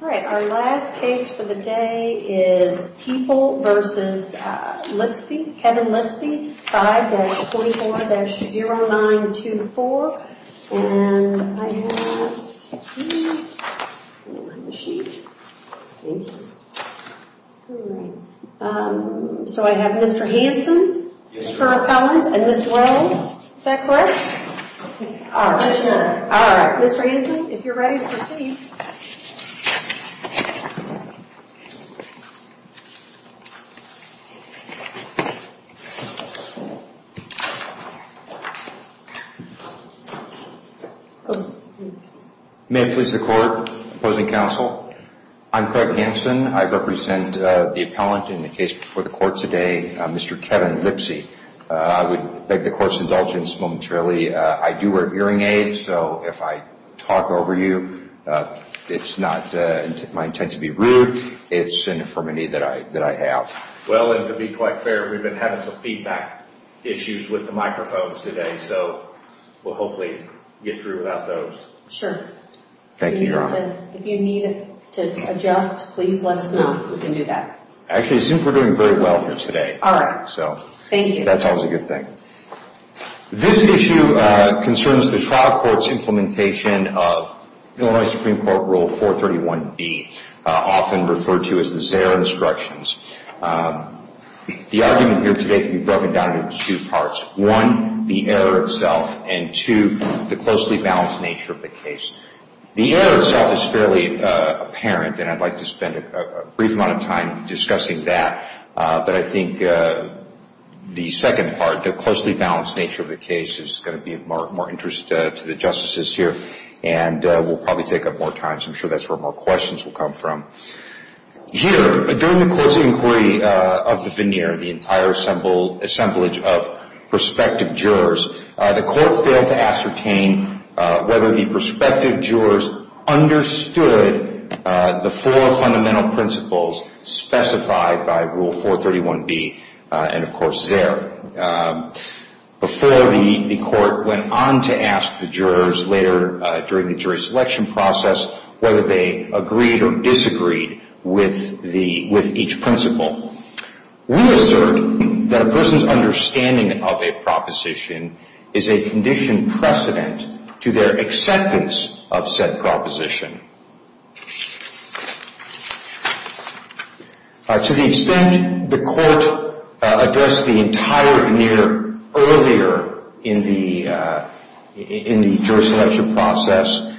All right. Our last case for the day is People v. Lipsey, Kevin Lipsey, 5-24-0924. And I have Mr. Hanson for appellant and Ms. Wells. Is that correct? All right. Mr. Hanson, if you're ready to proceed. May it please the court, opposing counsel. I'm Craig Hanson. I represent the appellant in the case before the court today, Mr. Kevin Lipsey. I would beg the court's indulgence momentarily. I do wear hearing aids, so if I talk over you, it's not my intent to be rude. It's an infirmity that I have. Well, and to be quite fair, we've been having some feedback issues with the microphones today, so we'll hopefully get through without those. Thank you, Your Honor. If you need to adjust, please let us know. We can do that. Actually, it seems we're doing very well here today. All right. Thank you. That's always a good thing. This issue concerns the trial court's implementation of Illinois Supreme Court Rule 431B, often referred to as the Zare Instructions. The argument here today can be broken down into two parts. One, the error itself, and two, the closely balanced nature of the case. The error itself is fairly apparent, and I'd like to spend a brief amount of time discussing that. But I think the second part, the closely balanced nature of the case, is going to be of more interest to the justices here, and we'll probably take up more time. I'm sure that's where more questions will come from. Here, during the court's inquiry of the veneer, the entire assemblage of prospective jurors, the court failed to ascertain whether the prospective jurors understood the four fundamental principles specified by Rule 431B and, of course, Zare. Before the court went on to ask the jurors later during the jury selection process whether they agreed or disagreed with each principle. We assert that a person's understanding of a proposition is a conditioned precedent to their acceptance of said proposition. To the extent the court addressed the entire veneer earlier in the jury selection process,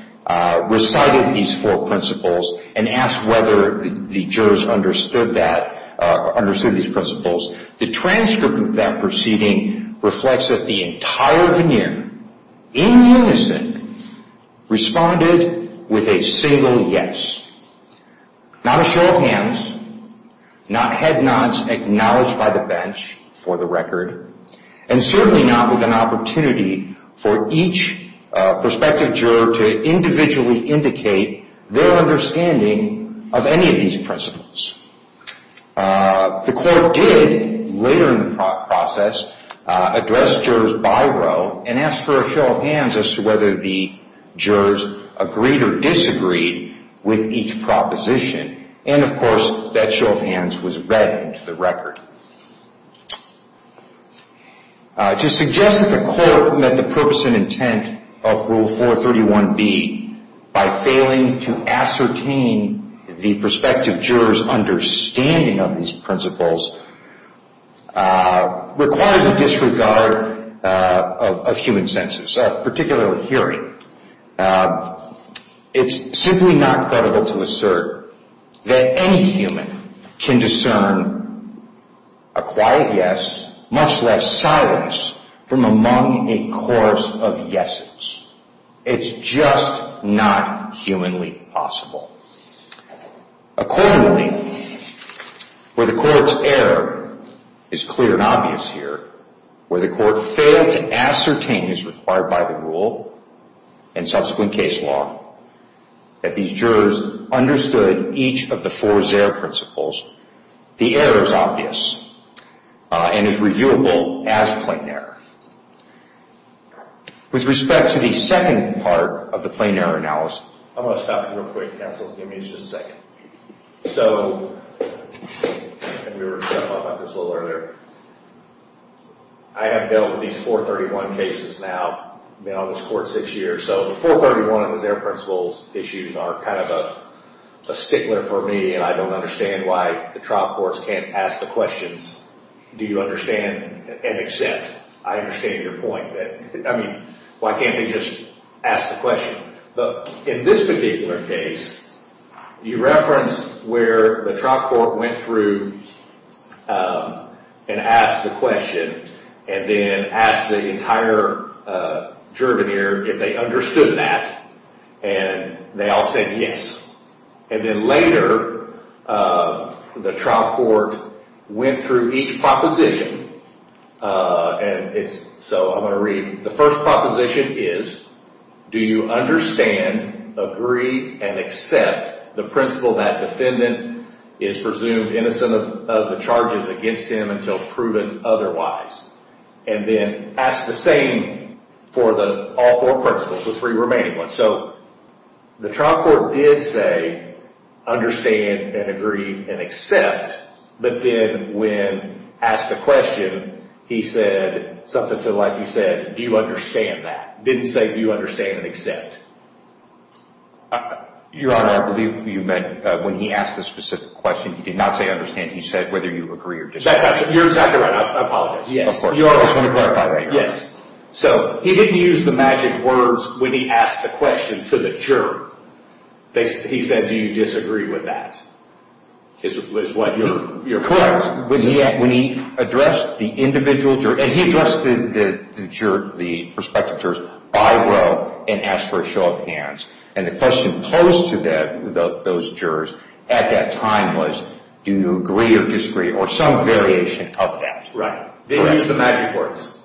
recited these four principles, and asked whether the jurors understood these principles, the transcript of that proceeding reflects that the entire veneer, in unison, responded with a single yes. Not a show of hands, not head nods acknowledged by the bench, for the record, and certainly not with an opportunity for each prospective juror to individually indicate their understanding of any of these principles. The court did, later in the process, address jurors by row and asked for a show of hands as to whether the jurors agreed or disagreed with each proposition. And, of course, that show of hands was read to the record. To suggest that the court met the purpose and intent of Rule 431B by failing to ascertain the prospective juror's understanding of these principles requires a disregard of human senses, particularly hearing. It's simply not credible to assert that any human can discern a quiet yes, much less silence, from among a chorus of yeses. It's just not humanly possible. Accordingly, where the court's error is clear and obvious here, where the court failed to ascertain, as required by the rule and subsequent case law, that these jurors understood each of the four Zare principles, the error is obvious and is reviewable as plain error. With respect to the second part of the plain error analysis... I'm going to stop you real quick, counsel. Give me just a second. So, and we were talking about this a little earlier, I have dealt with these 431 cases now, been on this court six years, so the 431 Zare principles issues are kind of a stickler for me, and I don't understand why the trial courts can't ask the questions, do you understand and accept? I understand your point. I mean, why can't they just ask the question? But in this particular case, you referenced where the trial court went through and asked the question, and then asked the entire juror here if they understood that, and they all said yes. And then later, the trial court went through each proposition, and so I'm going to read. The first proposition is, do you understand, agree, and accept the principle that defendant is presumed innocent of the charges against him until proven otherwise? And then ask the same for all four principles, the three remaining ones. So, the trial court did say, understand and agree and accept, but then when asked the question, he said something to the like, he said, do you understand that? Didn't say, do you understand and accept? Your Honor, I believe you meant when he asked the specific question, he did not say understand, he said whether you agree or disagree. You're exactly right, I apologize. I just want to clarify that. Your Honor, yes. So, he didn't use the magic words when he asked the question to the juror. He said, do you disagree with that? Correct. When he addressed the individual juror, and he addressed the prospective jurors by row and asked for a show of hands, and the question posed to those jurors at that time was, do you agree or disagree, or some variation of that. Right. Didn't use the magic words.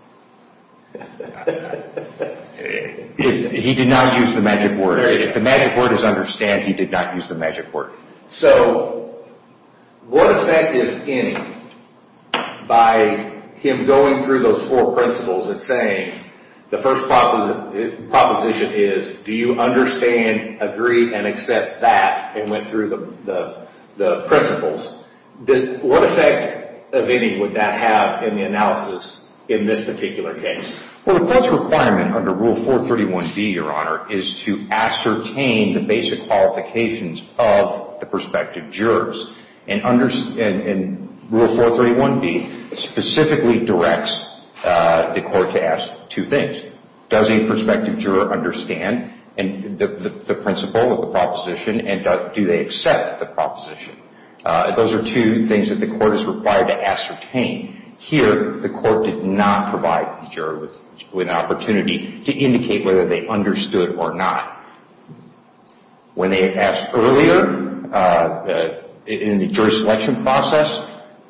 He did not use the magic words. If the magic word is understand, he did not use the magic word. So, what effect is any by him going through those four principles and saying, the first proposition is, do you understand, agree, and accept that, and went through the principles. What effect of any would that have in the analysis in this particular case? Well, the court's requirement under Rule 431B, Your Honor, is to ascertain the basic qualifications of the prospective jurors. And Rule 431B specifically directs the court to ask two things. Does a prospective juror understand the principle of the proposition, and do they accept the proposition? Those are two things that the court is required to ascertain. Here, the court did not provide the juror with an opportunity to indicate whether they understood or not. When they asked earlier, in the jury selection process,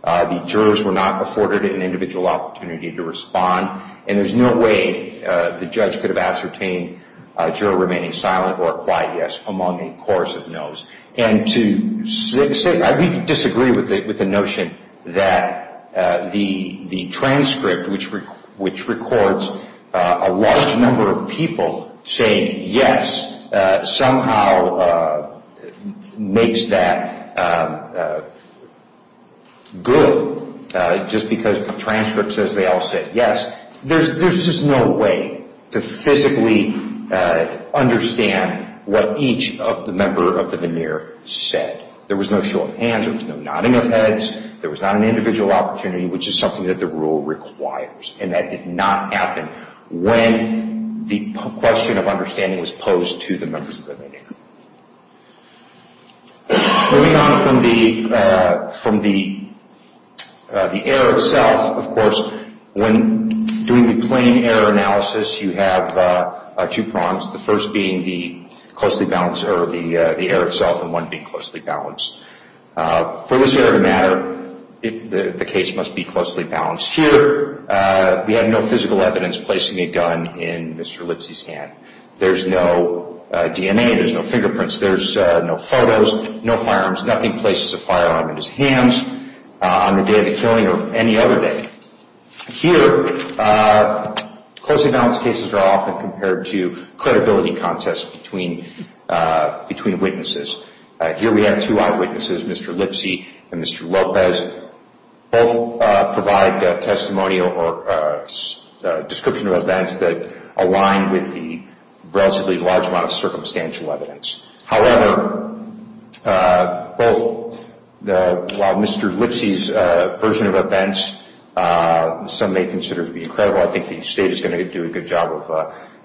the jurors were not afforded an individual opportunity to respond, and there's no way the judge could have ascertained a juror remaining silent or a quiet yes among a chorus of no's. And to say, we disagree with the notion that the transcript, which records a large number of people saying yes, somehow makes that good just because the transcript says they all said yes, there's just no way to physically understand what each member of the veneer said. There was no show of hands. There was no nodding of heads. There was not an individual opportunity, which is something that the rule requires, and that did not happen. When the question of understanding was posed to the members of the veneer. Moving on from the error itself, of course, when doing the plain error analysis, you have two prongs, the first being the closely balanced error, the error itself, and one being closely balanced. For this error to matter, the case must be closely balanced. Here, we have no physical evidence placing a gun in Mr. Lipsy's hand. There's no DNA. There's no fingerprints. There's no photos, no firearms, nothing places a firearm in his hands on the day of the killing or any other day. Here, closely balanced cases are often compared to credibility contests between witnesses. Here, we have two eyewitnesses, Mr. Lipsy and Mr. Lopez. Both provide testimonial or description of events that align with the relatively large amount of circumstantial evidence. However, while Mr. Lipsy's version of events, some may consider to be incredible, I think the state is going to do a good job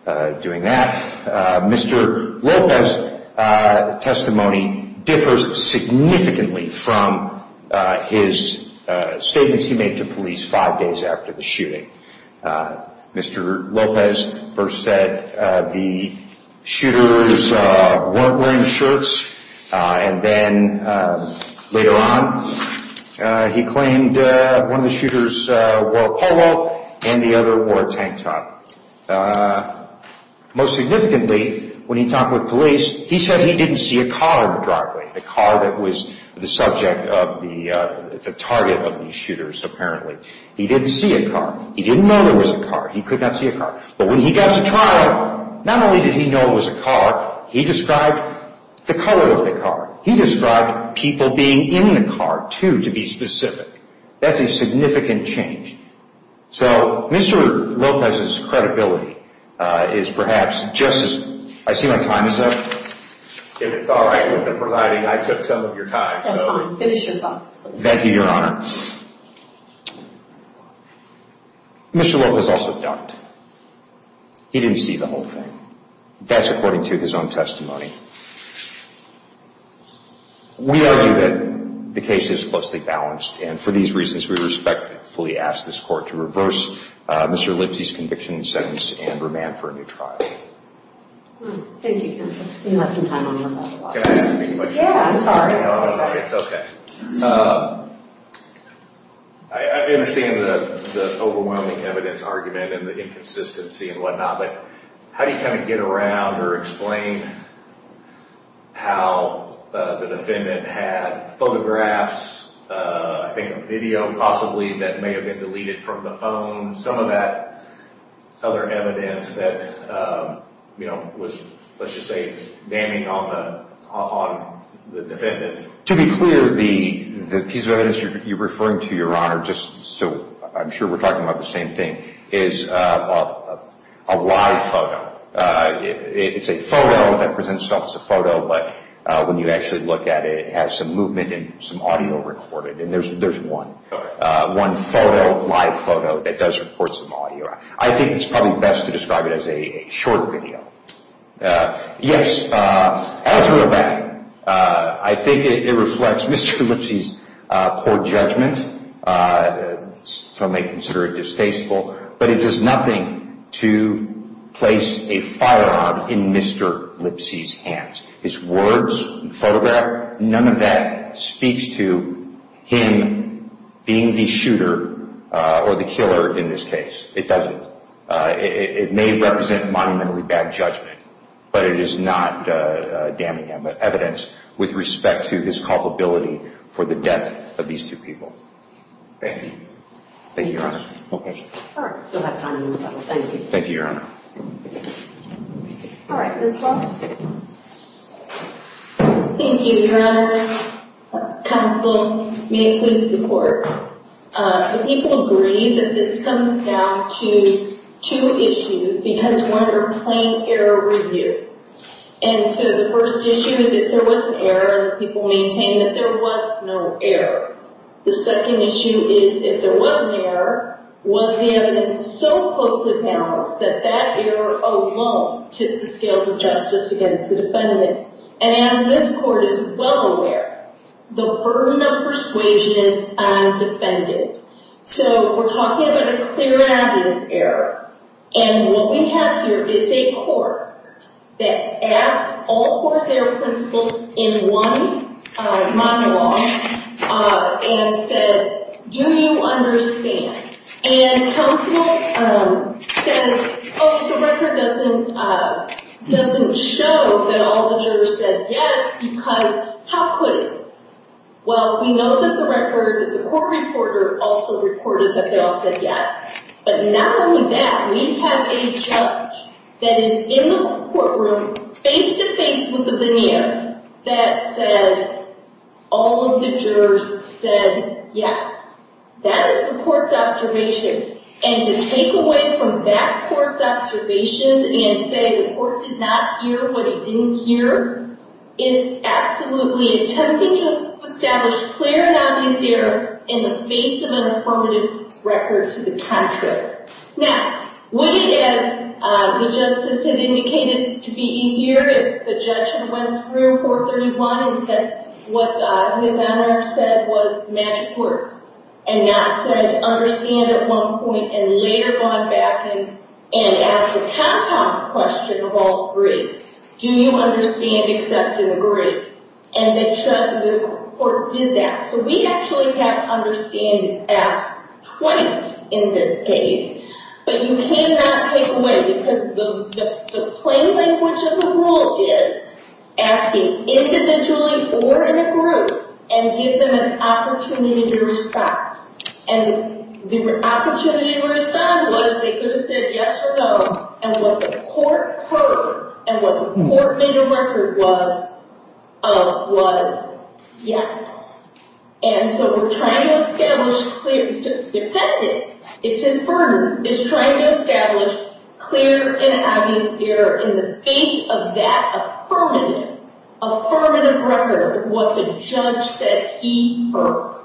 of doing that. Mr. Lopez's testimony differs significantly from his statements he made to police five days after the shooting. Mr. Lopez first said the shooters weren't wearing shirts, and then later on he claimed one of the shooters wore a polo and the other wore a tank top. Most significantly, when he talked with police, he said he didn't see a car in the driveway, the car that was the subject of the target of these shooters, apparently. He didn't see a car. He didn't know there was a car. He could not see a car. But when he got to trial, not only did he know it was a car, he described the color of the car. He described people being in the car, too, to be specific. That's a significant change. So Mr. Lopez's credibility is perhaps just as – I see my time is up. If it's all right with the presiding, I took some of your time. That's fine. Finish your thoughts, please. Thank you, Your Honor. Mr. Lopez also doubted. He didn't see the whole thing. That's according to his own testimony. We argue that the case is closely balanced, and for these reasons we respectfully ask this court to reverse Mr. Lipsy's conviction and sentence and remand for a new trial. Thank you, counsel. You left some time on your phone. Can I ask you a question? Yeah, I'm sorry. It's okay. I understand the overwhelming evidence argument and the inconsistency and whatnot, but how do you kind of get around or explain how the defendant had photographs, I think a video possibly, that may have been deleted from the phone, some of that other evidence that was, let's just say, damning on the defendant? To be clear, the piece of evidence you're referring to, Your Honor, just so I'm sure we're talking about the same thing, is a live photo. It's a photo that presents itself as a photo, but when you actually look at it, it has some movement and some audio recorded, and there's one photo, live photo, that does record some audio. I think it's probably best to describe it as a short video. Yes, as a matter of fact, I think it reflects Mr. Lipsy's poor judgment, some may consider it distasteful, but it does nothing to place a firearm in Mr. Lipsy's hands. His words, photograph, none of that speaks to him being the shooter or the killer in this case. It doesn't. It may represent monumentally bad judgment, but it is not damning evidence with respect to his culpability for the death of these two people. Thank you. Thank you, Your Honor. Okay. All right, we'll have time in the middle. Thank you. Thank you, Your Honor. All right, Ms. Fox. Thank you, Your Honor. Counsel, may I please report? The people agree that this comes down to two issues because one are plain error review. And so the first issue is if there was an error, people maintain that there was no error. The second issue is if there was an error, was the evidence so closely balanced that that error alone took the scales of justice against the defendant? And as this court is well aware, the burden of persuasion is undefended. So we're talking about a clear evidence error. And what we have here is a court that asked all four of their principals in one monologue and said, do you understand? And counsel says, oh, the record doesn't show that all the jurors said yes because how could it? Well, we know that the record, the court reporter also reported that they all said yes. But not only that, we have a judge that is in the courtroom face-to-face with the veneer that says all of the jurors said yes. That is the court's observations. And to take away from that court's observations and say the court did not hear what it didn't hear is absolutely attempting to establish clear and obvious error in the face of an affirmative record to the contrary. Now, would it, as the justice had indicated, to be easier if the judge had went through Court 31 and said what Ms. Anner said was magic words and not said understand at one point and later gone back and asked a compound question of all three. Do you understand, accept, and agree? And the court did that. So we actually have understand ask twice in this case, but you cannot take away because the plain language of the rule is asking individually or in a group and give them an opportunity to respond. And the opportunity to respond was they could have said yes or no, and what the court heard and what the court made a record was yes. And so we're trying to establish clear and obvious error in the face of that affirmative record of what the judge said he heard.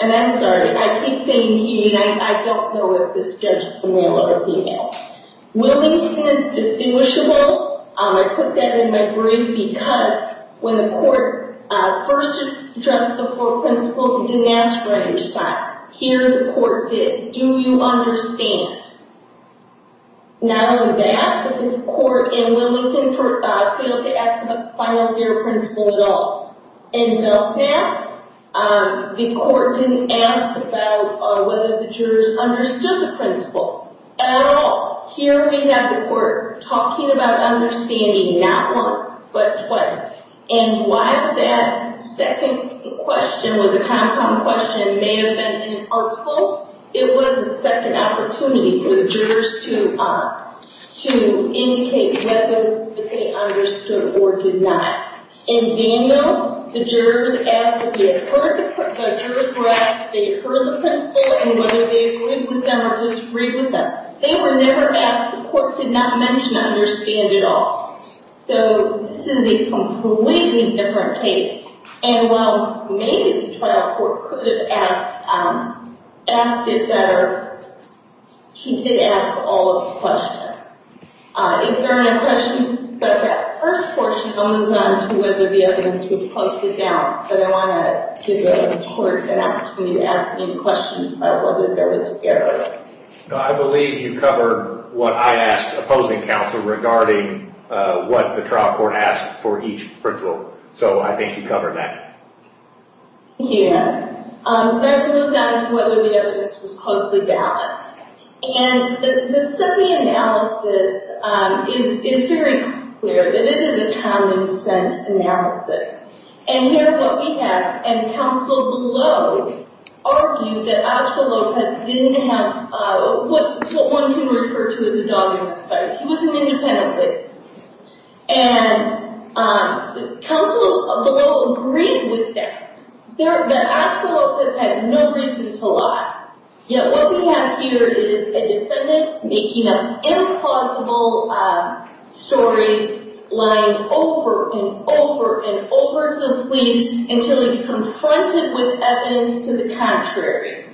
And I'm sorry. I keep saying he, and I don't know if this judge is a male or a female. Wilmington is distinguishable. I put that in my brief because when the court first addressed the four principles, it didn't ask for any response. Here the court did. Do you understand? Not only that, but the court in Wilmington failed to ask about the final zero principle at all. In Milpat, the court didn't ask about whether the jurors understood the principles at all. Here we have the court talking about understanding not once, but twice. And while that second question was a compound question, may have been an article, it was a second opportunity for the jurors to indicate whether they understood or did not. In Daniel, the jurors were asked if they had heard the principle and whether they agreed with them or disagreed with them. They were never asked. The court did not mention understand at all. So this is a completely different case. And while maybe the trial court could have asked it better, she did ask all of the questions. If there are no questions about that first portion, I'll move on to whether the evidence was posted down. But I want to give the court an opportunity to ask any questions about whether there was error. I believe you covered what I asked opposing counsel regarding what the trial court asked for each principle. So I think you covered that. Yeah. But I believe that whether the evidence was closely balanced. And the SIPI analysis is very clear that it is a common sense analysis. And here what we have, and counsel below, argue that Oscar Lopez didn't have what one can refer to as a dog in the sky. He was an independent witness. And counsel below agreed with that, that Oscar Lopez had no reason to lie. Yet what we have here is a defendant making up impossible stories, lying over and over and over to the police until he's confronted with evidence to the contrary.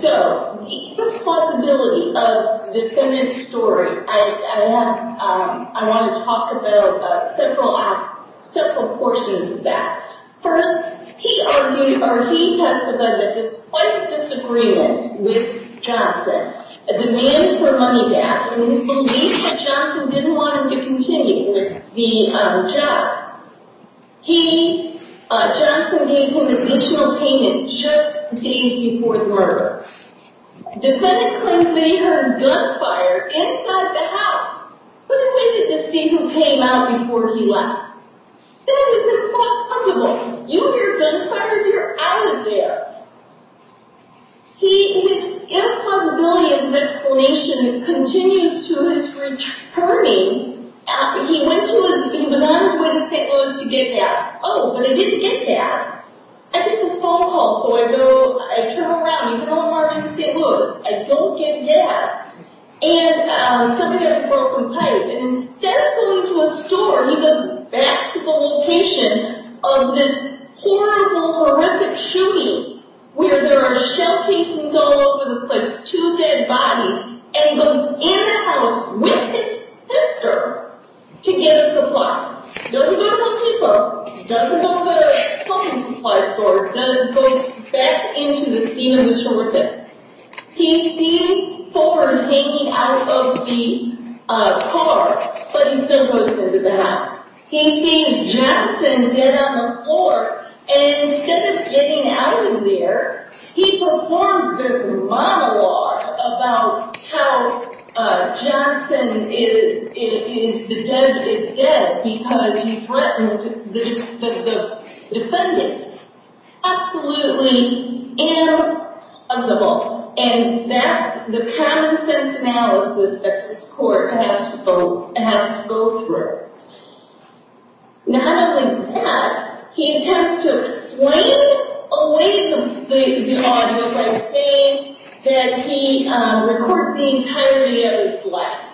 So the plausibility of the defendant's story, I want to talk about several portions of that. First, he testified that despite a disagreement with Johnson, a demand for money back, and his belief that Johnson didn't want him to continue with the job, he, Johnson, gave him additional payment just days before the murder. Defendant claims that he heard gunfire inside the house. But then why did the statement came out before he left? That is impossible. You hear gunfire, you're out of there. His impossibility of his explanation continues to his returning. He went to his, he was on his way to St. Louis to get gas. Oh, but I didn't get gas. I get this phone call, so I go, I turn around. Even though I'm already in St. Louis, I don't get gas. And somebody has a broken pipe. And instead of going to a store, he goes back to the location of this horrible, horrific shooting where there are shell casings all over the place, two dead bodies. And he goes in the house with his sister to get a supply. Doesn't go to a paper. Doesn't go to the clothing supply store. Goes back into the scene of the shooting. He sees Ford hanging out of the car, but he still goes into the house. He sees Jackson dead on the floor. And instead of getting out of there, he performs this monologue about how Johnson is dead because he threatened the defendant. Absolutely impossible. And that's the common sense analysis that this court has to go through. Not only that, he attempts to explain away the audio by saying that he records the entirety of his life.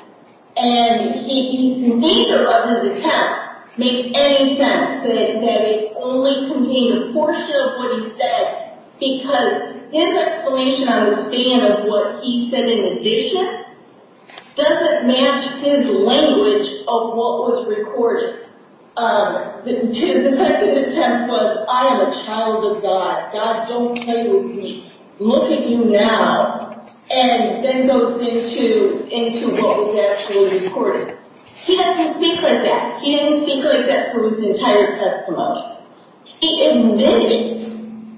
And neither of his attempts make any sense, that they only contain a portion of what he said, because his explanation on the stand of what he said in addition doesn't match his language of what was recorded. His second attempt was, I am a child of God. God, don't play with me. Look at you now. And then goes into what was actually recorded. He doesn't speak like that. He didn't speak like that for his entire testimony. He admitted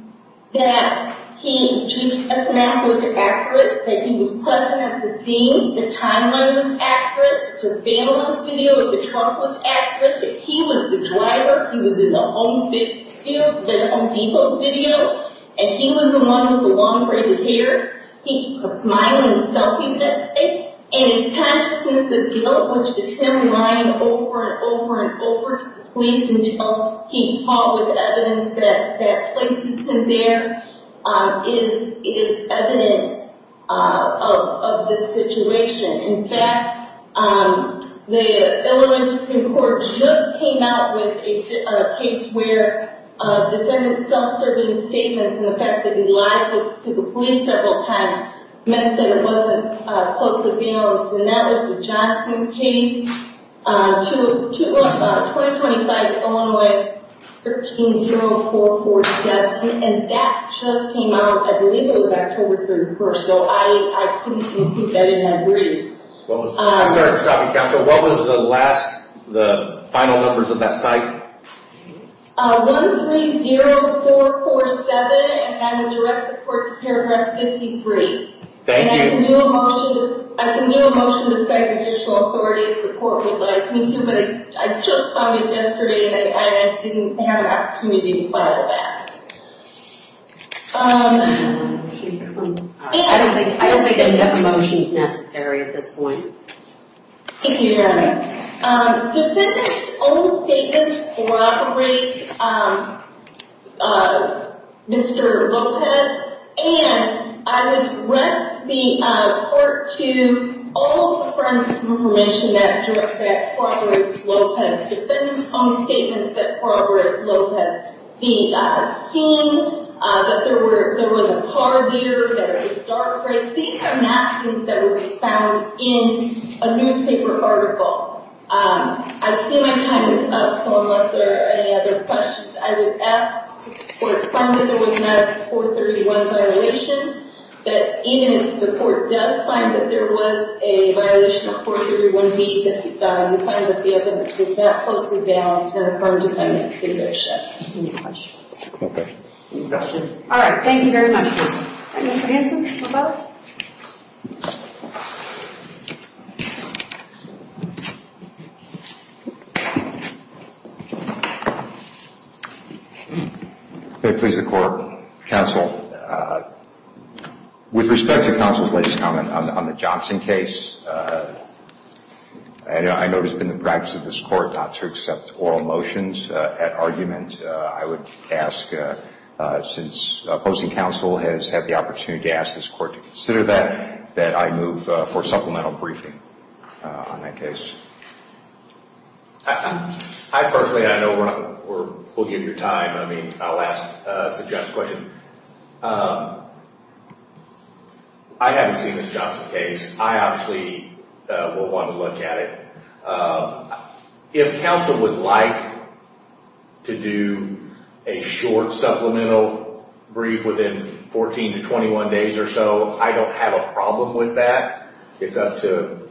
that his testimony was accurate, that he was present at the scene, that the timeline was accurate, the surveillance video of the trunk was accurate, that he was the driver, he was in the Home Depot video, and he was the one with the long braided hair. He was smiling and selfie-fixing. And his consciousness of guilt, when you just hear him lying over and over and over to the police and he's tall with evidence that places him there, is evidence of this situation. In fact, the Illinois Supreme Court just came out with a case where a defendant self-serving statements and the fact that he lied to the police several times meant that it wasn't closely balanced. And that was the Johnson case. 2025, Illinois, 130447. And that just came out, I believe it was October 31st. So I couldn't keep that in my brief. I'm sorry to stop you, Counselor. What was the last, the final numbers of that site? 130447, and I would direct the court to paragraph 53. Thank you. I can do a motion to second the judicial authority if the court would like me to, but I just found it yesterday and I didn't have an opportunity to file that. I don't think I have motions necessary at this point. Thank you, Your Honor. Defendant's own statements corroborate Mr. Lopez, and I would direct the court to all of the friends of information that corroborates Lopez. Defendant's own statements that corroborate Lopez. The scene that there was a car there, that it was dark, right? These are not things that would be found in a newspaper article. I see my time is up, so unless there are any other questions, I would ask that the court find that there was not a 431 violation, that even if the court does find that there was a violation of 431B, that the defendant was not closely balanced in a crime-dependent situation. Any questions? No questions. All right. Thank you very much. Mr. Hanson? Lopez? May it please the court, counsel. With respect to counsel's latest comment on the Johnson case, I know it has been the practice of this court not to accept oral motions at argument. I would ask, since opposing counsel has had the opportunity to ask this court to consider that, that I move for supplemental briefing on that case. I personally, I know we'll give you time. I mean, I'll suggest a question. I haven't seen this Johnson case. I obviously will want to look at it. If counsel would like to do a short supplemental brief within 14 to 21 days or so, I don't have a problem with that. It's up to,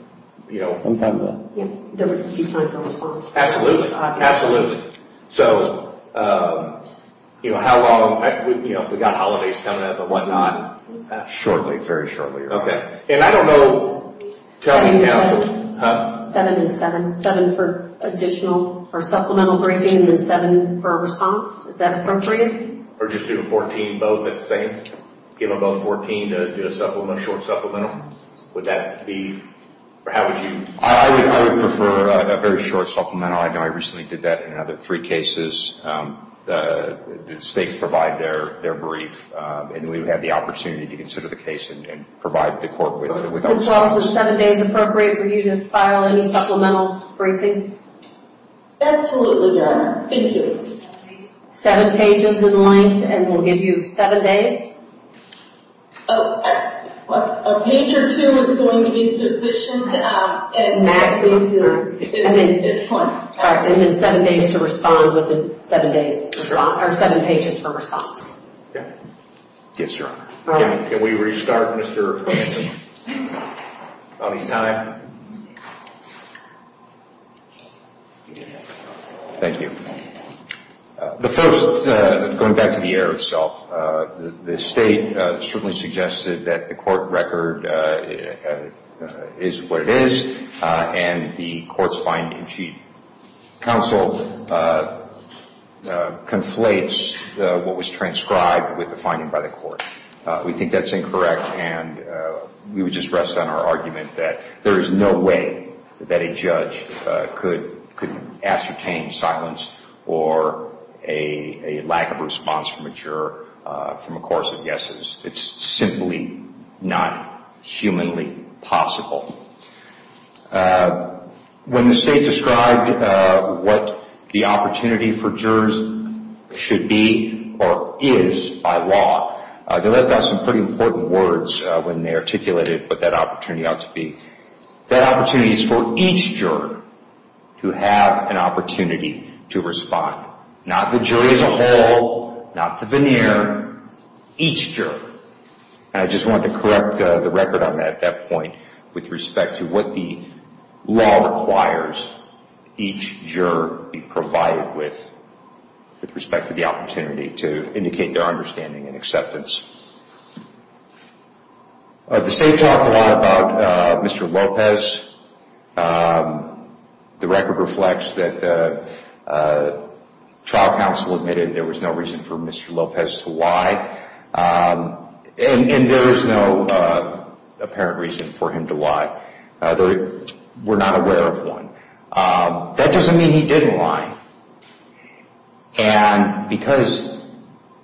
you know. I'm fine with that. Absolutely. So, you know, how long? You know, we've got holidays coming up and whatnot. Shortly. Very shortly. Okay. And I don't know. Seven and seven. Seven for additional or supplemental briefing and then seven for a response. Is that appropriate? Or just do 14 both at the same? Give them both 14 to do a short supplemental? Would that be? Or how would you? I would prefer a very short supplemental. I know I recently did that in another three cases. The states provide their brief, and we would have the opportunity to consider the case and provide the court with that. Ms. Wallace, is seven days appropriate for you to file any supplemental briefing? Absolutely, Your Honor. Thank you. Seven pages in length and we'll give you seven days? A page or two is going to be sufficient at maximum. And then seven days to respond with the seven pages for response. Yes, Your Honor. Can we restart, Mr. Manson, on his time? Thank you. The first, going back to the error itself, the state certainly suggested that the court record is what it is and the court's finding sheet counsel conflates what was transcribed with the finding by the court. We think that's incorrect, and we would just rest on our argument that there is no way that a judge could ascertain silence or a lack of response from a juror from a course of guesses. It's simply not humanly possible. When the state described what the opportunity for jurors should be or is by law, they left out some pretty important words when they articulated what that opportunity ought to be. That opportunity is for each juror to have an opportunity to respond. Not the jury as a whole, not the veneer, each juror. And I just wanted to correct the record on that at that point with respect to what the law requires each juror be provided with with respect to the opportunity to indicate their understanding and acceptance. The state talked a lot about Mr. Lopez. The record reflects that trial counsel admitted there was no reason for Mr. Lopez to lie, and there is no apparent reason for him to lie. We're not aware of one. That doesn't mean he didn't lie. And because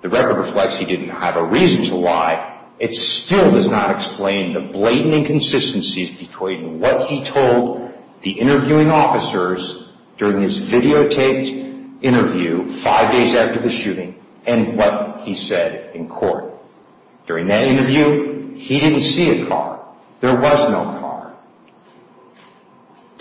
the record reflects he didn't have a reason to lie, it still does not explain the blatant inconsistencies between what he told the interviewing officers during his videotaped interview five days after the shooting and what he said in court. During that interview, he didn't see a car. There was no car.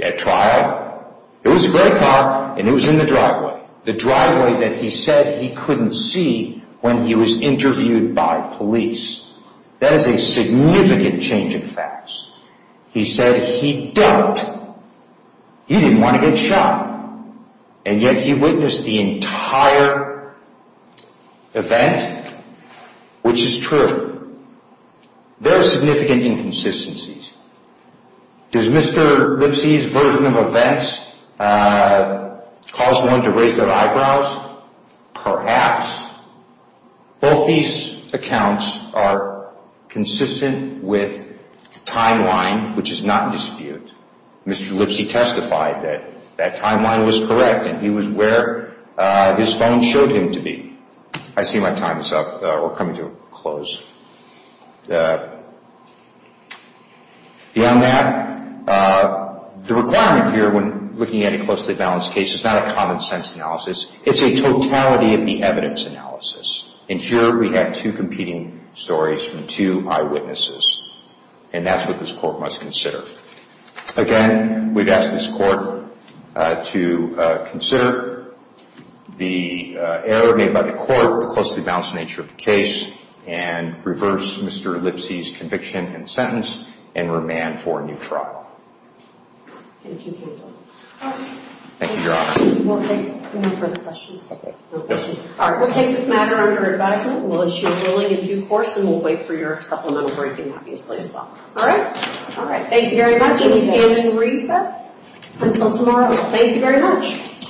At trial, it was a gray car, and it was in the driveway, the driveway that he said he couldn't see when he was interviewed by police. That is a significant change in facts. He said he doubted. He didn't want to get shot. And yet he witnessed the entire event, which is true. There are significant inconsistencies. Does Mr. Lipsy's version of events cause one to raise their eyebrows? Perhaps. Both these accounts are consistent with timeline, which is not in dispute. Mr. Lipsy testified that that timeline was correct, and he was where his phone showed him to be. I see my time is up. We're coming to a close. Beyond that, the requirement here when looking at a closely balanced case is not a common sense analysis. It's a totality of the evidence analysis. And here we have two competing stories from two eyewitnesses, and that's what this court must consider. Again, we'd ask this court to consider the error made by the court, the closely balanced nature of the case, and reverse Mr. Lipsy's conviction and sentence, and remand for a new trial. Thank you, counsel. Thank you, Your Honor. We'll take this matter under advisement. We'll issue a ruling in due course, and we'll wait for your supplemental briefing, obviously, as well. All right? All right. Thank you very much, and we stand in recess until tomorrow. Thank you very much.